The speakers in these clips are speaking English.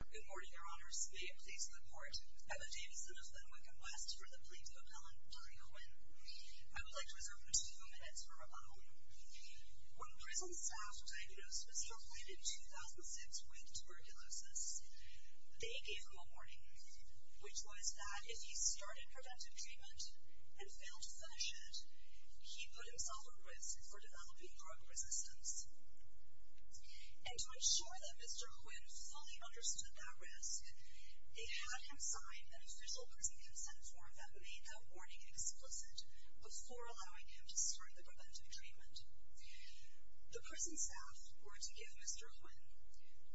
Good morning, your honors. May it please the court, I'm a Davidson of the New England West, for the plea of Helen Dahlia Huynh. I would like to reserve two minutes for rebuttal. When prison staff diagnosed Mr. Huynh in 2006 with tuberculosis, they gave him a warning, which was that if he started preventive treatment and failed to finish it, he put himself at risk for developing drug resistance. And to ensure that Mr. Huynh fully understood that risk, they had him sign an official prison consent form that made that warning explicit, before allowing him to start the preventive treatment. The prison staff were to give Mr. Huynh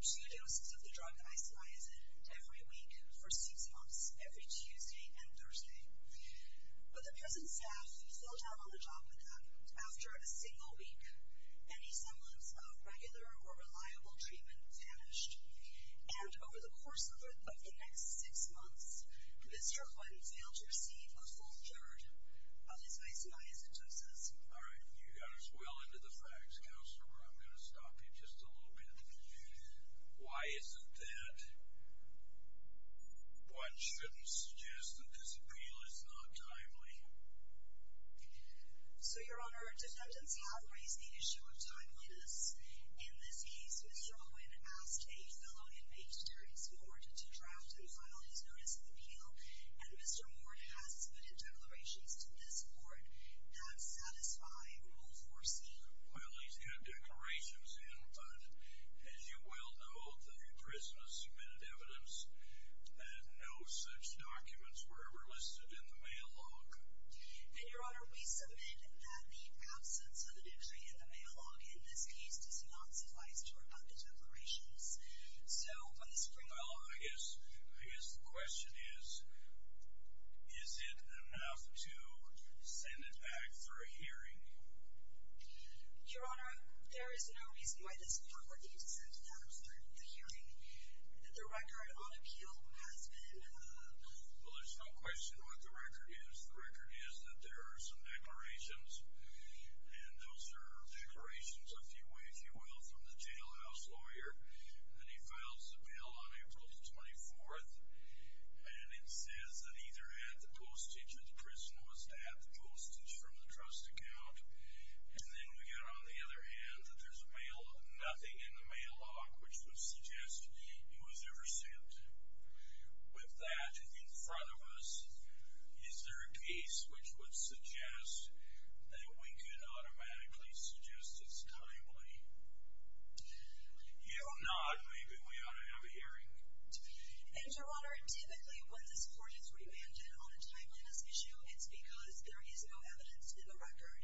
two doses of the drug isoniazid every week for six months, every Tuesday and Thursday. But the prison staff fell down on the job with him. After a single week, any semblance of regular or reliable treatment vanished. And over the course of the next six months, Mr. Huynh failed to receive a full third of his isoniazid doses. All right, you got us well into the facts, counselor, but I'm going to stop you just a little bit. Why isn't that? One shouldn't suggest that this appeal is not timely. So, Your Honor, defendants have raised the issue of timeliness. In this case, Mr. Huynh asked a fellow inmate, Darius Mort, to draft and file his notice of appeal, and Mr. Mort has submitted declarations to this court that satisfy Rule 4c. Well, he's got declarations in, but as you well know, the prison has submitted evidence that no such documents were ever listed in the mail log. And, Your Honor, we submit that the absence of the dictionary in the mail log in this case does not suffice to report the declarations. So, on this point... Well, I guess the question is, is it enough to send it back for a hearing? Your Honor, there is no reason why this property is sent back for the hearing. The record on appeal has been... Well, there's no question what the record is. The record is that there are some declarations, and those are declarations, if you will, from the jailhouse lawyer, and he files the bill on April the 24th, and it says that either at the postage of the prisoner was to have the postage from the trust account, and then we got on the other hand that there's nothing in the mail log which would suggest it was ever sent. With that in front of us, is there a case which would suggest that we could automatically suggest it's timely? You nod. Maybe we ought to have a hearing. And, Your Honor, typically when this court is remanded on a timeliness issue, it's because there is no evidence in the record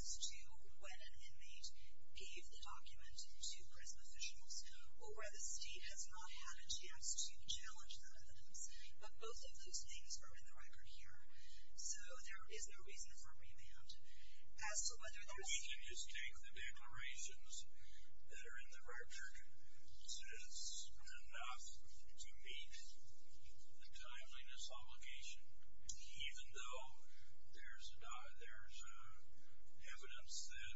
as to when an inmate gave the document to prison officials or where the state has not had a chance to challenge that evidence, but both of those things are in the record here. So, there is no reason for remand. We can just take the declarations that are in the record, since enough to meet the timeliness obligation, even though there's evidence that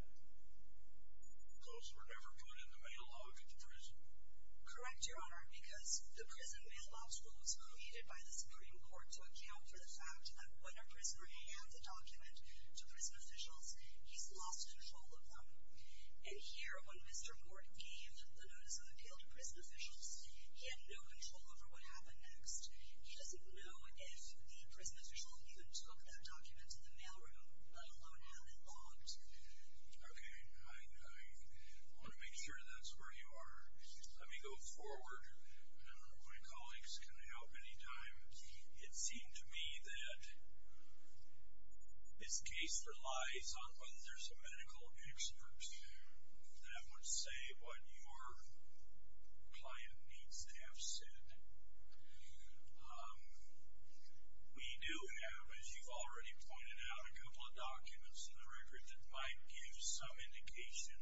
those were never put in the mail log to prison. Correct, Your Honor, because the prison mail log rule was created by the Supreme Court to account for the fact that when a prisoner hands a document to prison officials, he's lost control of them. And here, when Mr. Morton gave the Notice of Appeal to prison officials, he had no control over what happened next. He doesn't know if the prison official even took that document to the mail room, let alone had it logged. Okay, I want to make sure that's where you are. Let me go forward. My colleagues can help any time. It seemed to me that this case relies on whether there's a medical expert that would say what your client needs to have said. We do have, as you've already pointed out, a couple of documents in the record that might give some indication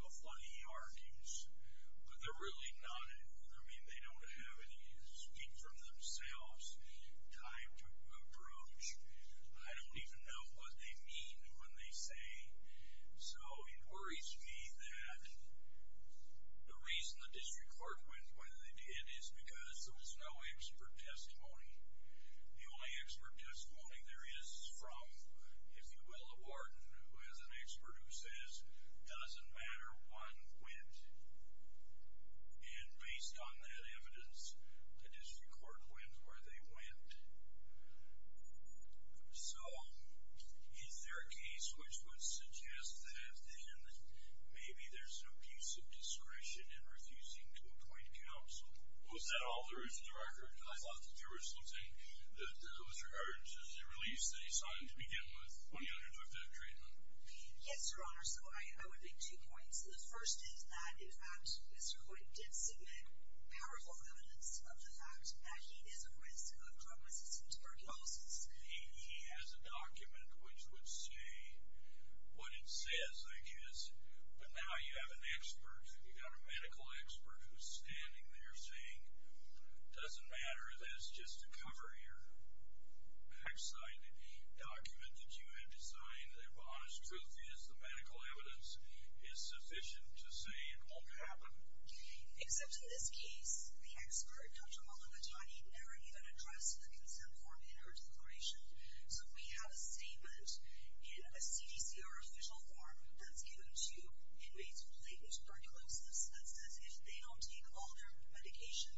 of what he argues, but they're really none in either. I mean, they don't have any speak-for-themselves type to approach. I don't even know what they mean when they say. So it worries me that the reason the district court went with it is because there was no expert testimony. The only expert testimony there is from, if you will, a warden who is an expert who says, doesn't matter, one went. And based on that evidence, the district court went where they went. So is there a case which would suggest that then maybe there's an abuse of discretion in refusing to appoint counsel? Was that all there is to the record? I thought that there was something that was regarding the release that he signed to begin with when he undertook that treatment. Yes, Your Honor. So I would make two points. The first is that, in fact, Mr. Hoyt did submit powerful evidence of the fact that he is at risk of drug-resistant tuberculosis. He has a document which would say what it says, I guess. But now you have an expert, you've got a medical expert who's standing there saying, doesn't matter, that's just to cover your backside document that you have. As truth is, the medical evidence is sufficient to say it won't happen. Except in this case, the expert, Dr. Malavitani, never even addressed the consent form in her declaration. So we have a statement in a CDCR official form that's given to inmates with latent tuberculosis that says if they don't take all their medication,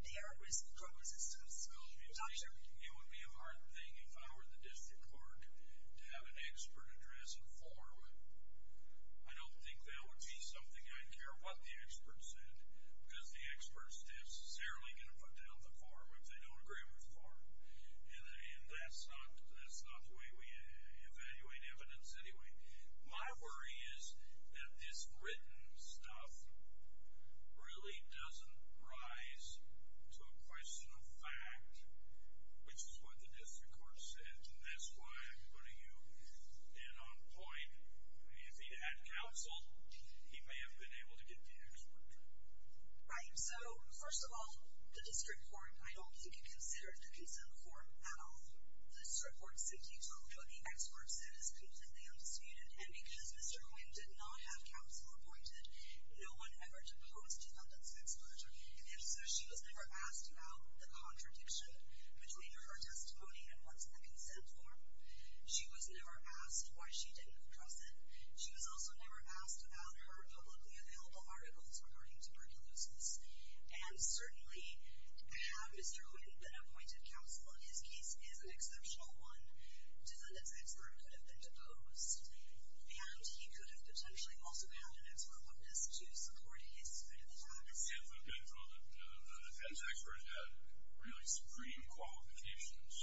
they are at risk of drug-resistant tuberculosis. It would be a hard thing if I were the district court to have an expert address a form. I don't think that would be something. I care what the expert said because the expert is necessarily going to put down the form if they don't agree with the form. And that's not the way we evaluate evidence anyway. My worry is that this written stuff really doesn't rise to a question of fact, which is what the district court said. And that's why I'm putting you in on point. I mean, if he'd had counsel, he may have been able to get the expert. Right. So, first of all, the district court, I don't think he considered the consent form at all. The district court said he talked to the experts. It is completely unsuited. And because Mr. Huynh did not have counsel appointed, no one ever deposed the defendant's expert. And if so, she was never asked about the contradiction between her testimony and what's in the consent form. She was never asked why she didn't address it. She was also never asked about her publicly available articles regarding tuberculosis. And certainly, have Mr. Huynh been appointed counsel, his case is an exceptional one. Defendant's expert could have been deposed. And he could have potentially also had an expert witness to support his side of the facts. If the defense experts had really supreme qualifications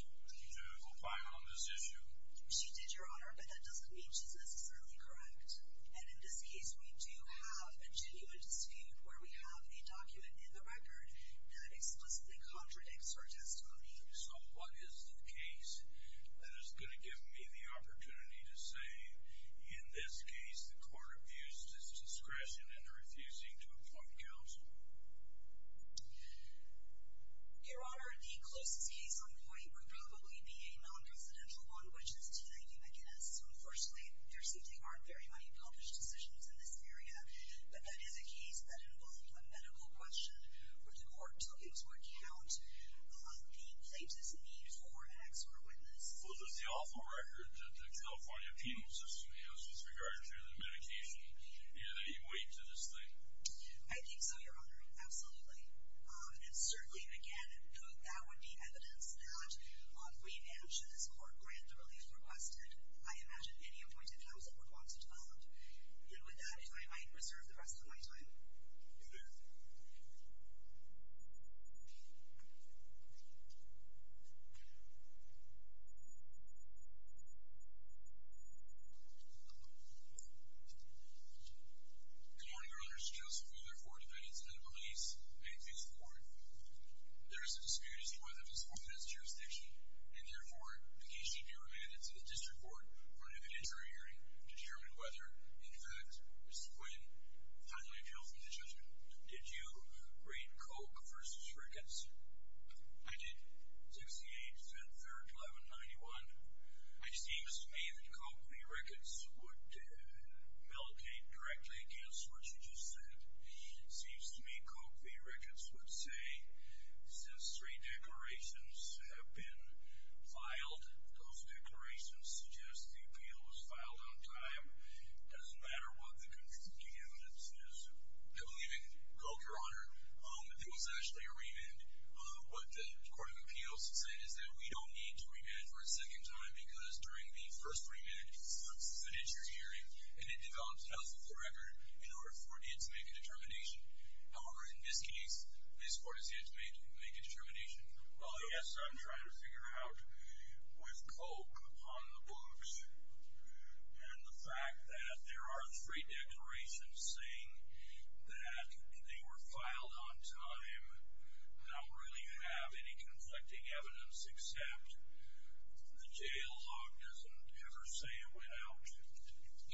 to apply on this issue. She did, Your Honor, but that doesn't mean she's necessarily correct. And in this case, we do have a genuine dispute where we have a document in the record that explicitly contradicts her testimony. So what is the case that is going to give me the opportunity to say, in this case, the court abused his discretion in refusing to appoint counsel? Your Honor, the closest case on point would probably be a non-presidential one, which is T.I.U. McInnes. So unfortunately, there seem to be very unaccomplished decisions in this area. But that is a case that involved a medical question, which the court took into account the plaintiff's need for an expert witness. Was this the awful record that the California Penal System has with regard to the medication? Is there any weight to this thing? I think so, Your Honor. Absolutely. And certainly, that would be evidence that, if we now should this court grant the relief requested, I imagine any appointed counsel would want to do that. And with that, if I might reserve the rest of my time. You may. Good morning, Your Honor. Mr. Joseph, we are here for a debate instead of a release. May it please the Court. There is a dispute as to whether this court has jurisdiction. And therefore, the case should be remanded to the district court for an inventory hearing to determine whether, in fact, Mr. Quinn finally feels in his judgment. Did you read Koch versus Ricketts? I did. 68, February 11, 91. It seems to me that Koch v. Ricketts would militate directly against what you just said. It seems to me Koch v. Ricketts would say, since three declarations have been filed, those declarations suggest the appeal was filed on time. It doesn't matter what the conviction to evidence is. I believe in Koch, Your Honor, if it was actually a remand. What the Court of Appeals has said is that we don't need to remand for a second time because during the first remand, he wants to finish your hearing. And it develops health of the record in order for it to make a determination. However, in this case, this court has yet to make a determination. Well, yes, I'm trying to figure out with Koch on the books and the fact that there are three declarations saying that they were filed on time, not really have any conflicting evidence, except the jail log doesn't ever say it without.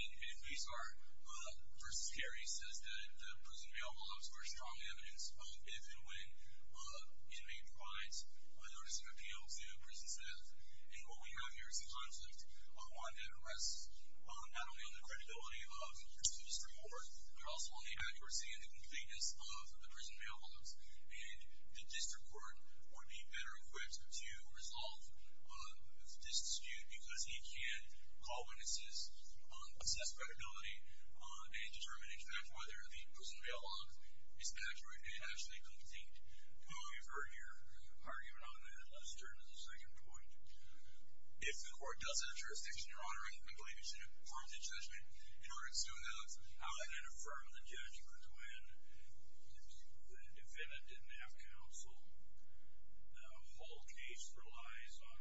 In the case, our v. Carey says that the prison bail volumes were strong evidence of if and when inmate provides a notice of appeal to prison staff. And what we have here is a concept, one that rests not only on the credibility of the remand, but also on the accuracy and the completeness of the prison bail volumes. And the district court would be better equipped to resolve this dispute because he can't call witnesses, assess credibility, and determine, in fact, whether the prison bail volumes is accurate and actually complete. Well, we've heard your argument on that. Let's turn to the second point. If the court does have jurisdiction in honoring, I believe it's an affirmative judgment. In order to do that, how can it affirm the judgment when, if the defendant didn't have counsel, the whole case relies on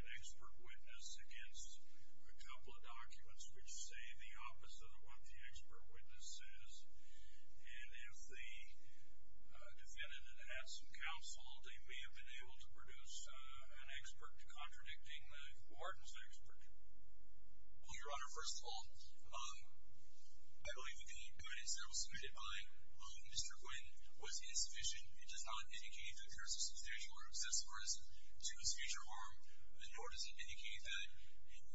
an expert witness against a couple of documents which say the opposite of what the expert witness says. And if the defendant had had some counsel, they may have been able to produce an expert contradicting the warden's expert. Well, Your Honor, first of all, I believe the witness that was submitted by Mr. Quinn was insufficient. It does not indicate that there is a substantial or excessive risk to his future harm, nor does it indicate that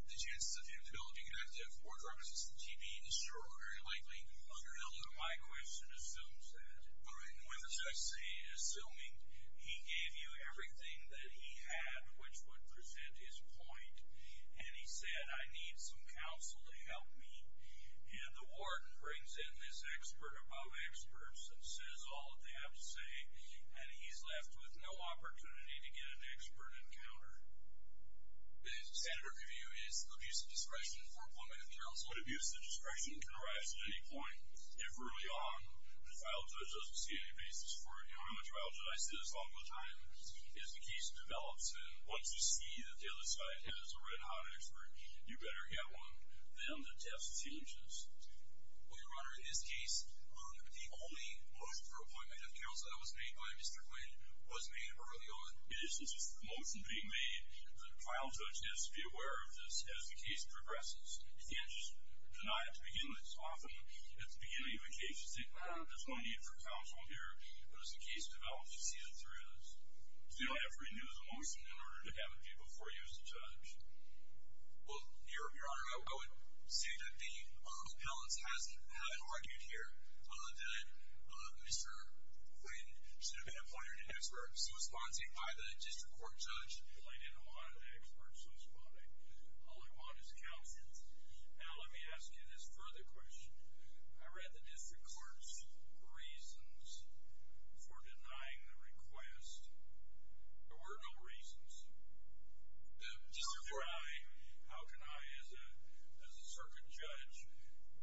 the chances of him developing an active or drug-resistant TB is very unlikely, Your Honor. My question assumes that. In other words, I say, assuming he gave you everything that he had, which would present his point, and he said, I need some counsel to help me. And the warden brings in this expert above experts and says all that they have to say, and he's left with no opportunity to get an expert encounter. The standard review is abuse of discretion for appointment of counsel. Abuse of discretion can arise at any point. If early on, the trial judge doesn't see any basis for it. Your Honor, the trial judge, I say this all the time, is the case develops, and once you see that the other side has a red-hot expert, you better get one. Then the test changes. Well, Your Honor, in this case, the only motion for appointment of counsel that was made by Mr. Quinn was made early on. It is just a motion being made. The trial judge has to be aware of this as the case progresses. He can't just deny it at the beginning. So often, at the beginning of a case, you say, well, there's no need for counsel here. But as the case develops, you see the three of those. You don't have to renew the motion in order to have it be before you as a judge. Well, Your Honor, I would say that the appellant has argued here that Mr. Quinn should have been appointed an expert. He was sponsored by the district court judge. Well, I didn't know why the expert was sponsored. All I want is counsel. Now, let me ask you this further question. I read the district court's reasons for denying the request. There were no reasons. How can I, as a circuit judge,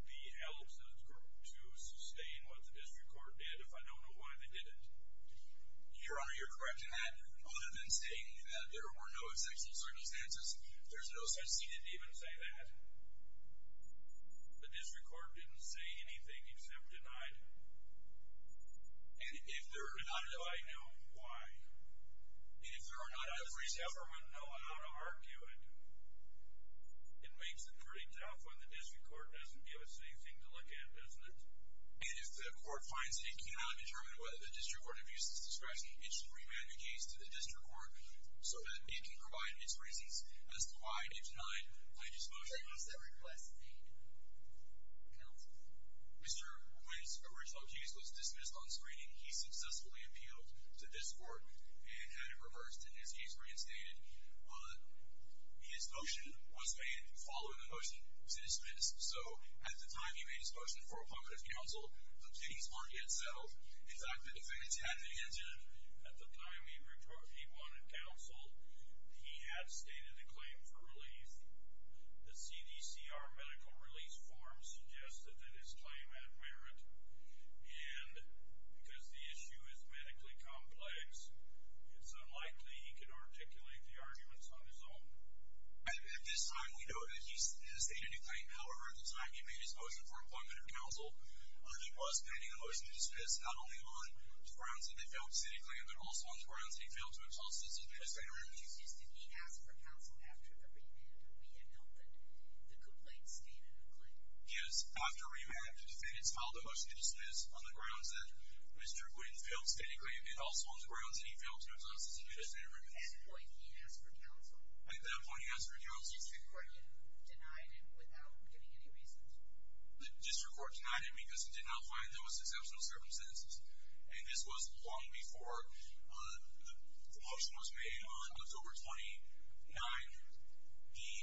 be helped to sustain what the district court did if I don't know why they didn't? Your Honor, you're correct in that. I would have been saying that there were no exceptional circumstances. There's no such thing. He didn't even say that. The district court didn't say anything except denied. And if there are none, I know why. And if there are none, I've reached out for one. No, I'm not arguing. It makes it pretty tough when the district court doesn't give us anything to look at, doesn't it? And if the court finds that it cannot determine whether the district court abused its discretion, it should remand the case to the district court so that it can provide its reasons as to why it denied the motion. What was that request made? Counsel. Mr. Wynn's original case was dismissed on screening. He successfully appealed to this court and had it reversed, and his case reinstated. His motion was made following the motion to dismiss. So at the time he made his motion for a punctuative counsel, the case wasn't yet settled. In fact, the defendants had to answer it. At the time he wanted counsel, he had stated a claim for relief. The CDCR medical release form suggested that his claim had merit, and because the issue is medically complex, it's unlikely he can articulate the arguments on his own. At this time, we know that he has stated a claim. However, at the time he made his motion for a punctuative counsel, he was pending a motion to dismiss not only on the grounds that he failed to sit a claim, but also on the grounds that he failed to exhaust the CDCR. Mr. Wynn refuses to be asked for counsel after the remand. We know that the complaint stated a claim. Yes, after remand, the defendants filed a motion to dismiss on the grounds that Mr. Wynn failed to sit a claim, but also on the grounds that he failed to exhaust the CDCR. At that point, he asked for counsel. At that point, he asked for counsel. The district court denied him without giving any reasons. The district court denied him because it did not find there was exceptional circumstances, and this was long before the motion was made. On October 29th, the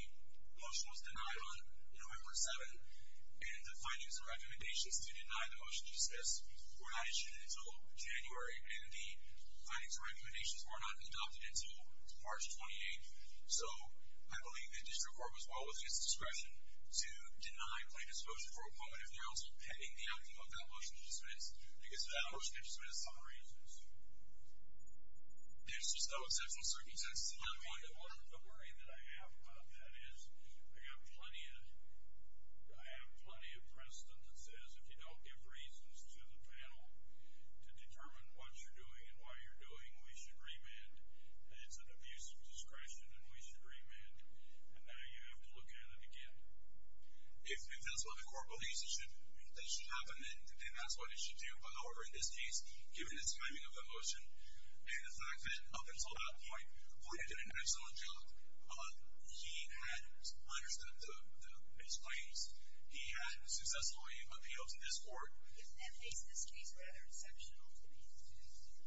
motion was denied on November 7th, and the findings and recommendations to deny the motion to dismiss were not issued until January, and the findings and recommendations were not adopted until March 28th. So I believe the district court was well within its discretion to deny plain disclosure for a punctuative counsel, pending the outcome of that motion to dismiss. The motion is dismissed on reasons. There's just no exceptional circumstances. The worry that I have about that is I have plenty of precedent that says if you don't give reasons to the panel to determine what you're doing and why you're doing, we should remand, and it's an abuse of discretion, and we should remand, and now you have to look at it again. If that's what the court believes that should happen, then that's what it should do. However, in this case, given the timing of the motion and the fact that up until that point, the plaintiff did an excellent job. He had understood his claims. He had successfully appealed to this court. And that makes this case rather exceptional to me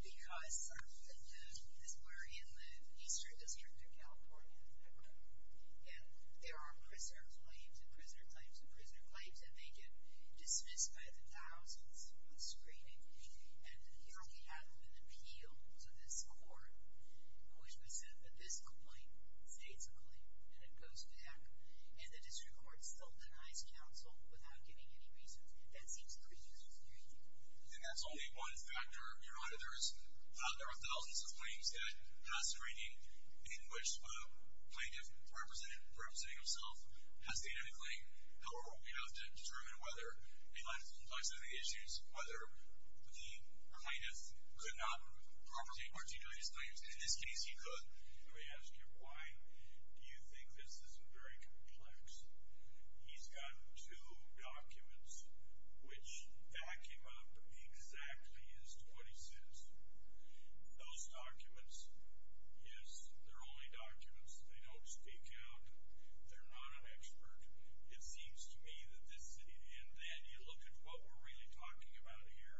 because this is where in the Eastern District of California, there are prisoner claims and prisoner claims and prisoner claims, and they get dismissed by the thousands on screening. And here we have an appeal to this court, which would say that this complaint states a claim, and it goes back, and the district court still denies counsel without giving any reasons. That seems pretty disconcerting. And that's only one factor, Your Honor. There are thousands of claims that pass the screening in which a plaintiff representing himself has stated a claim. However, we don't have to determine whether a client is complex in any issues, whether the plaintiff could not properly articulate his claims. In this case, he could. Let me ask you, why do you think this is very complex? He's got two documents which back him up exactly as to what he says. Those documents, yes, they're only documents. They don't speak out. They're not an expert. It seems to me that this city, and then you look at what we're really talking about here,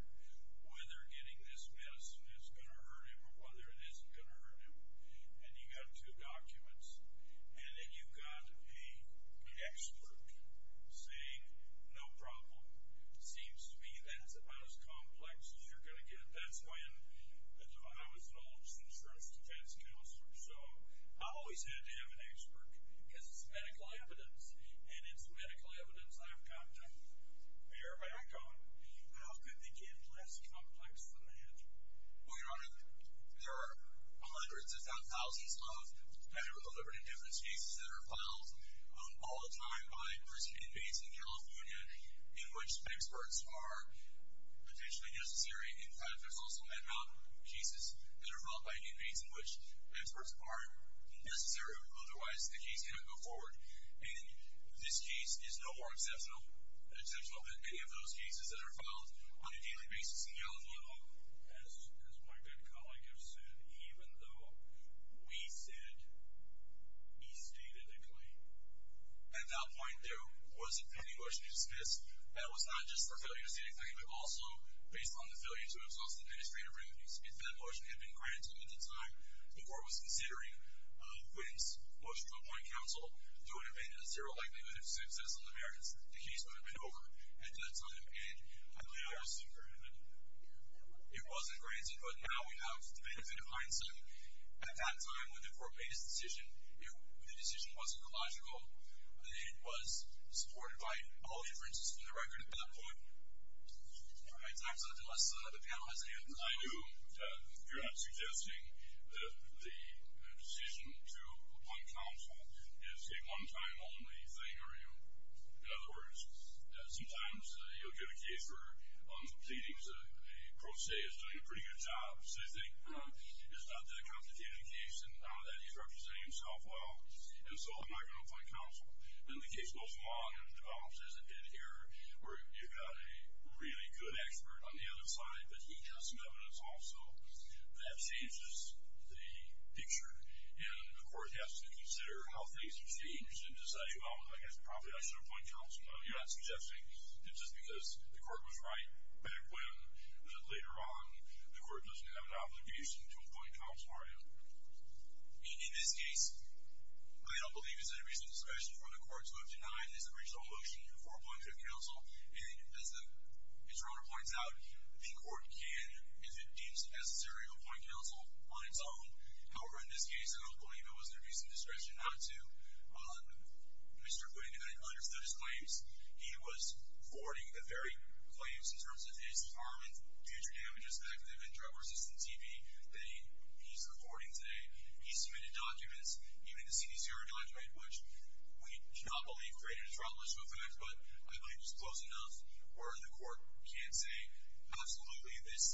whether getting this medicine is going to hurt him or whether it isn't going to hurt him. And you've got two documents, and then you've got an expert saying, no problem. It seems to me that's about as complex as you're going to get. That's when I was the oldest insurance defense counselor, so I always had to have an expert because it's medical evidence, and it's medical evidence I've come to verify. I go, how could they get less complex than that? Well, Your Honor, there are hundreds, if not thousands, of medical evidence cases that are filed all the time by prison inmates in California in which experts are potentially necessary. In fact, there's also head-mounted cases that are filed by inmates in which experts aren't necessary, otherwise the case cannot go forward. And this case is no more exceptional than many of those cases that are filed on a daily basis in California. So as my good colleague has said, even though we said he stated a claim, at that point there wasn't any motion to dismiss. That was not just for failure to state a claim, but also based on the failure to absolve the administrator from the use of that motion had been granted at the time before it was considering winning motion to appoint counsel. There would have been a zero likelihood of success on the merits if the case would have been over at that time. And it wasn't granted, but now we have the benefit of hindsight. At that time, when the court made its decision, the decision wasn't illogical. It was supported by all inferences from the record at that point. All right, time's up, unless the panel has any other questions. I do. You're not suggesting that the decision to appoint counsel is a one-time-only thing, are you? In other words, sometimes you'll get a case where I'm pleading to a pro se that's doing a pretty good job, so you think, you know, it's not that complicated a case and now that he's representing himself well, and so I'm not going to appoint counsel. And the case goes along and develops as it did here where you've got a really good expert on the other side, but he's got some evidence also that changes the picture. And the court has to consider how things have changed and decide, well, I guess probably I should appoint counsel. You're not suggesting that just because the court was right back when, later on, the court doesn't have an obligation to appoint counsel, are you? In this case, I don't believe it's a reasonable discretion for the court to have denied his original motion for appointing counsel. And as the attorney points out, the court can, if it deems necessary, appoint counsel on its own. However, in this case, I don't believe it was a reasonable discretion not to. Mr. Gooding, who had understood his claims, he was forwarding the very claims in terms of his harm and future damages back to the drug-resistant TB that he's reporting today. He submitted documents, even the CDCR document, which we do not believe created a drug-resistant effect, but I believe it was close enough where the court can say, absolutely, this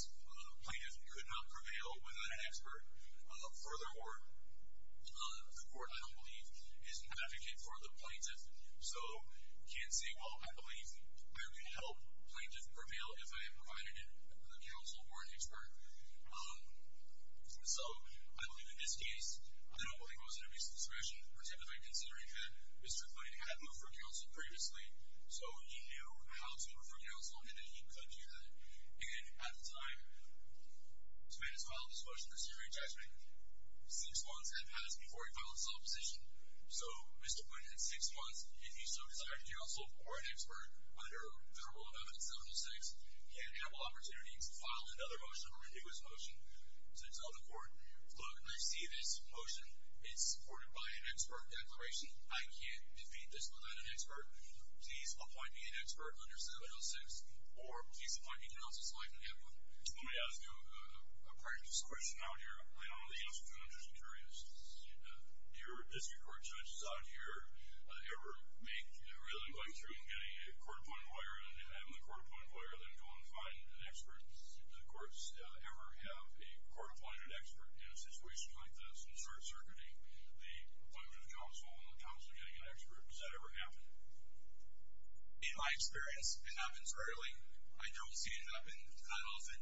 plaintiff could not prevail without an expert. Furthermore, the court, I don't believe, is an advocate for the plaintiff, so we can't say, well, I believe I would help plaintiff prevail if I am provided a counsel or an expert. So I believe in this case, I don't believe it was a reasonable discretion, particularly considering that Mr. Gooding had moved for counsel previously, so he knew how to move for counsel and that he could do that. And at the time this man has filed this motion, this jury judgment, six months had passed before he filed this opposition. So, Mr. Gooding, in six months, if you so desire to do counsel or an expert under Federal Amendment 706, you have ample opportunity to file another motion or a new motion to tell the court, look, I see this motion is supported by an expert declaration. I can't defeat this without an expert. Please apply to be an expert under 706, or please apply to be counsel, so I can get one. So let me ask you a practice question out here. I don't know the answer to it. I'm just curious. Do your district court judges out here ever make, really going through and getting a court-appointed lawyer and then having the court-appointed lawyer, then going to find an expert? Do the courts ever have a court-appointed expert in a situation like this and start circuiting the plaintiff's counsel and the counsel getting an expert? Does that ever happen? In my experience, it happens rarely. I don't see it happen that often.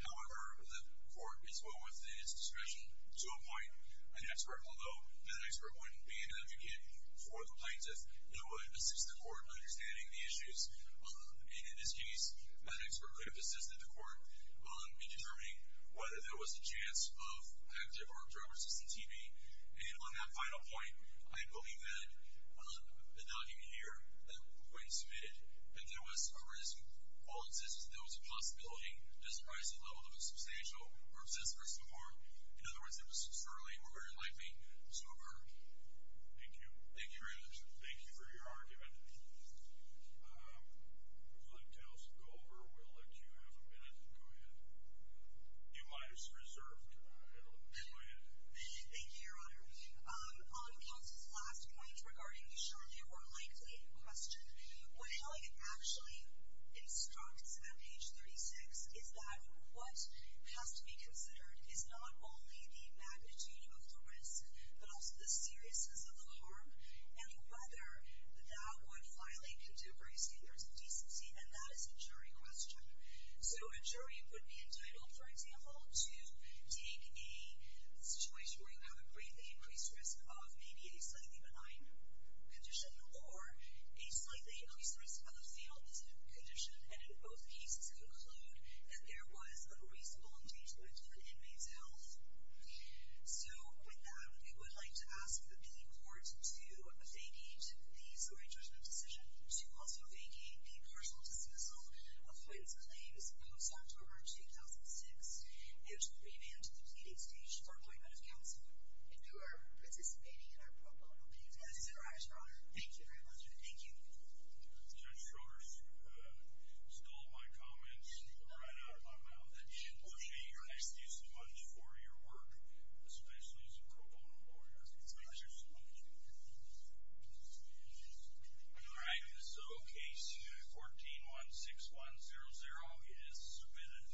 However, the court is one with its discretion to appoint an expert, although that expert wouldn't be an advocate for the plaintiff. It would assist the court in understanding the issues. And in this case, that expert could have assisted the court in determining whether there was a chance of active or drug-resistant TB. And on that final point, I believe that the document here, the point you submitted, that there was a risk. While it says there was a possibility, it doesn't rise to the level of a substantial or excessive risk of harm. In other words, it was surely or very likely sober. Thank you. Thank you very much. Thank you for your argument. I'd like to ask you to go over. We'll let you have a minute to go ahead. You might as well reserve that. Go ahead. Thank you, Your Honor. On counsel's last point regarding the surely or likely question, what Helen actually instructs on page 36 is that what has to be considered is not only the magnitude of the risk but also the seriousness of the harm and whether that would violate contemporary standards of decency, and that is a jury question. So a jury would be entitled, for example, to take a situation where you have a greatly increased risk of maybe a slightly benign condition or a slightly increased risk of a fetal misconduct condition, and in both cases conclude that there was unreasonable engagement with an inmate's health. So with that, we would like to ask the court to vacate the jury judgment decision to also vacate the partial dismissal of Flynn's claim as opposed to October 2006, and to revamp the pleading stage for appointment of counsel if you are participating in our pro bono case. That is correct, Your Honor. Thank you very much. Thank you. Judge Shorst stole my comments right out of my mouth. I appreciate your expertise so much for your work, especially as a pro bono lawyer. Thank you so much. Thank you. All right, so Case 14-16100 is submitted.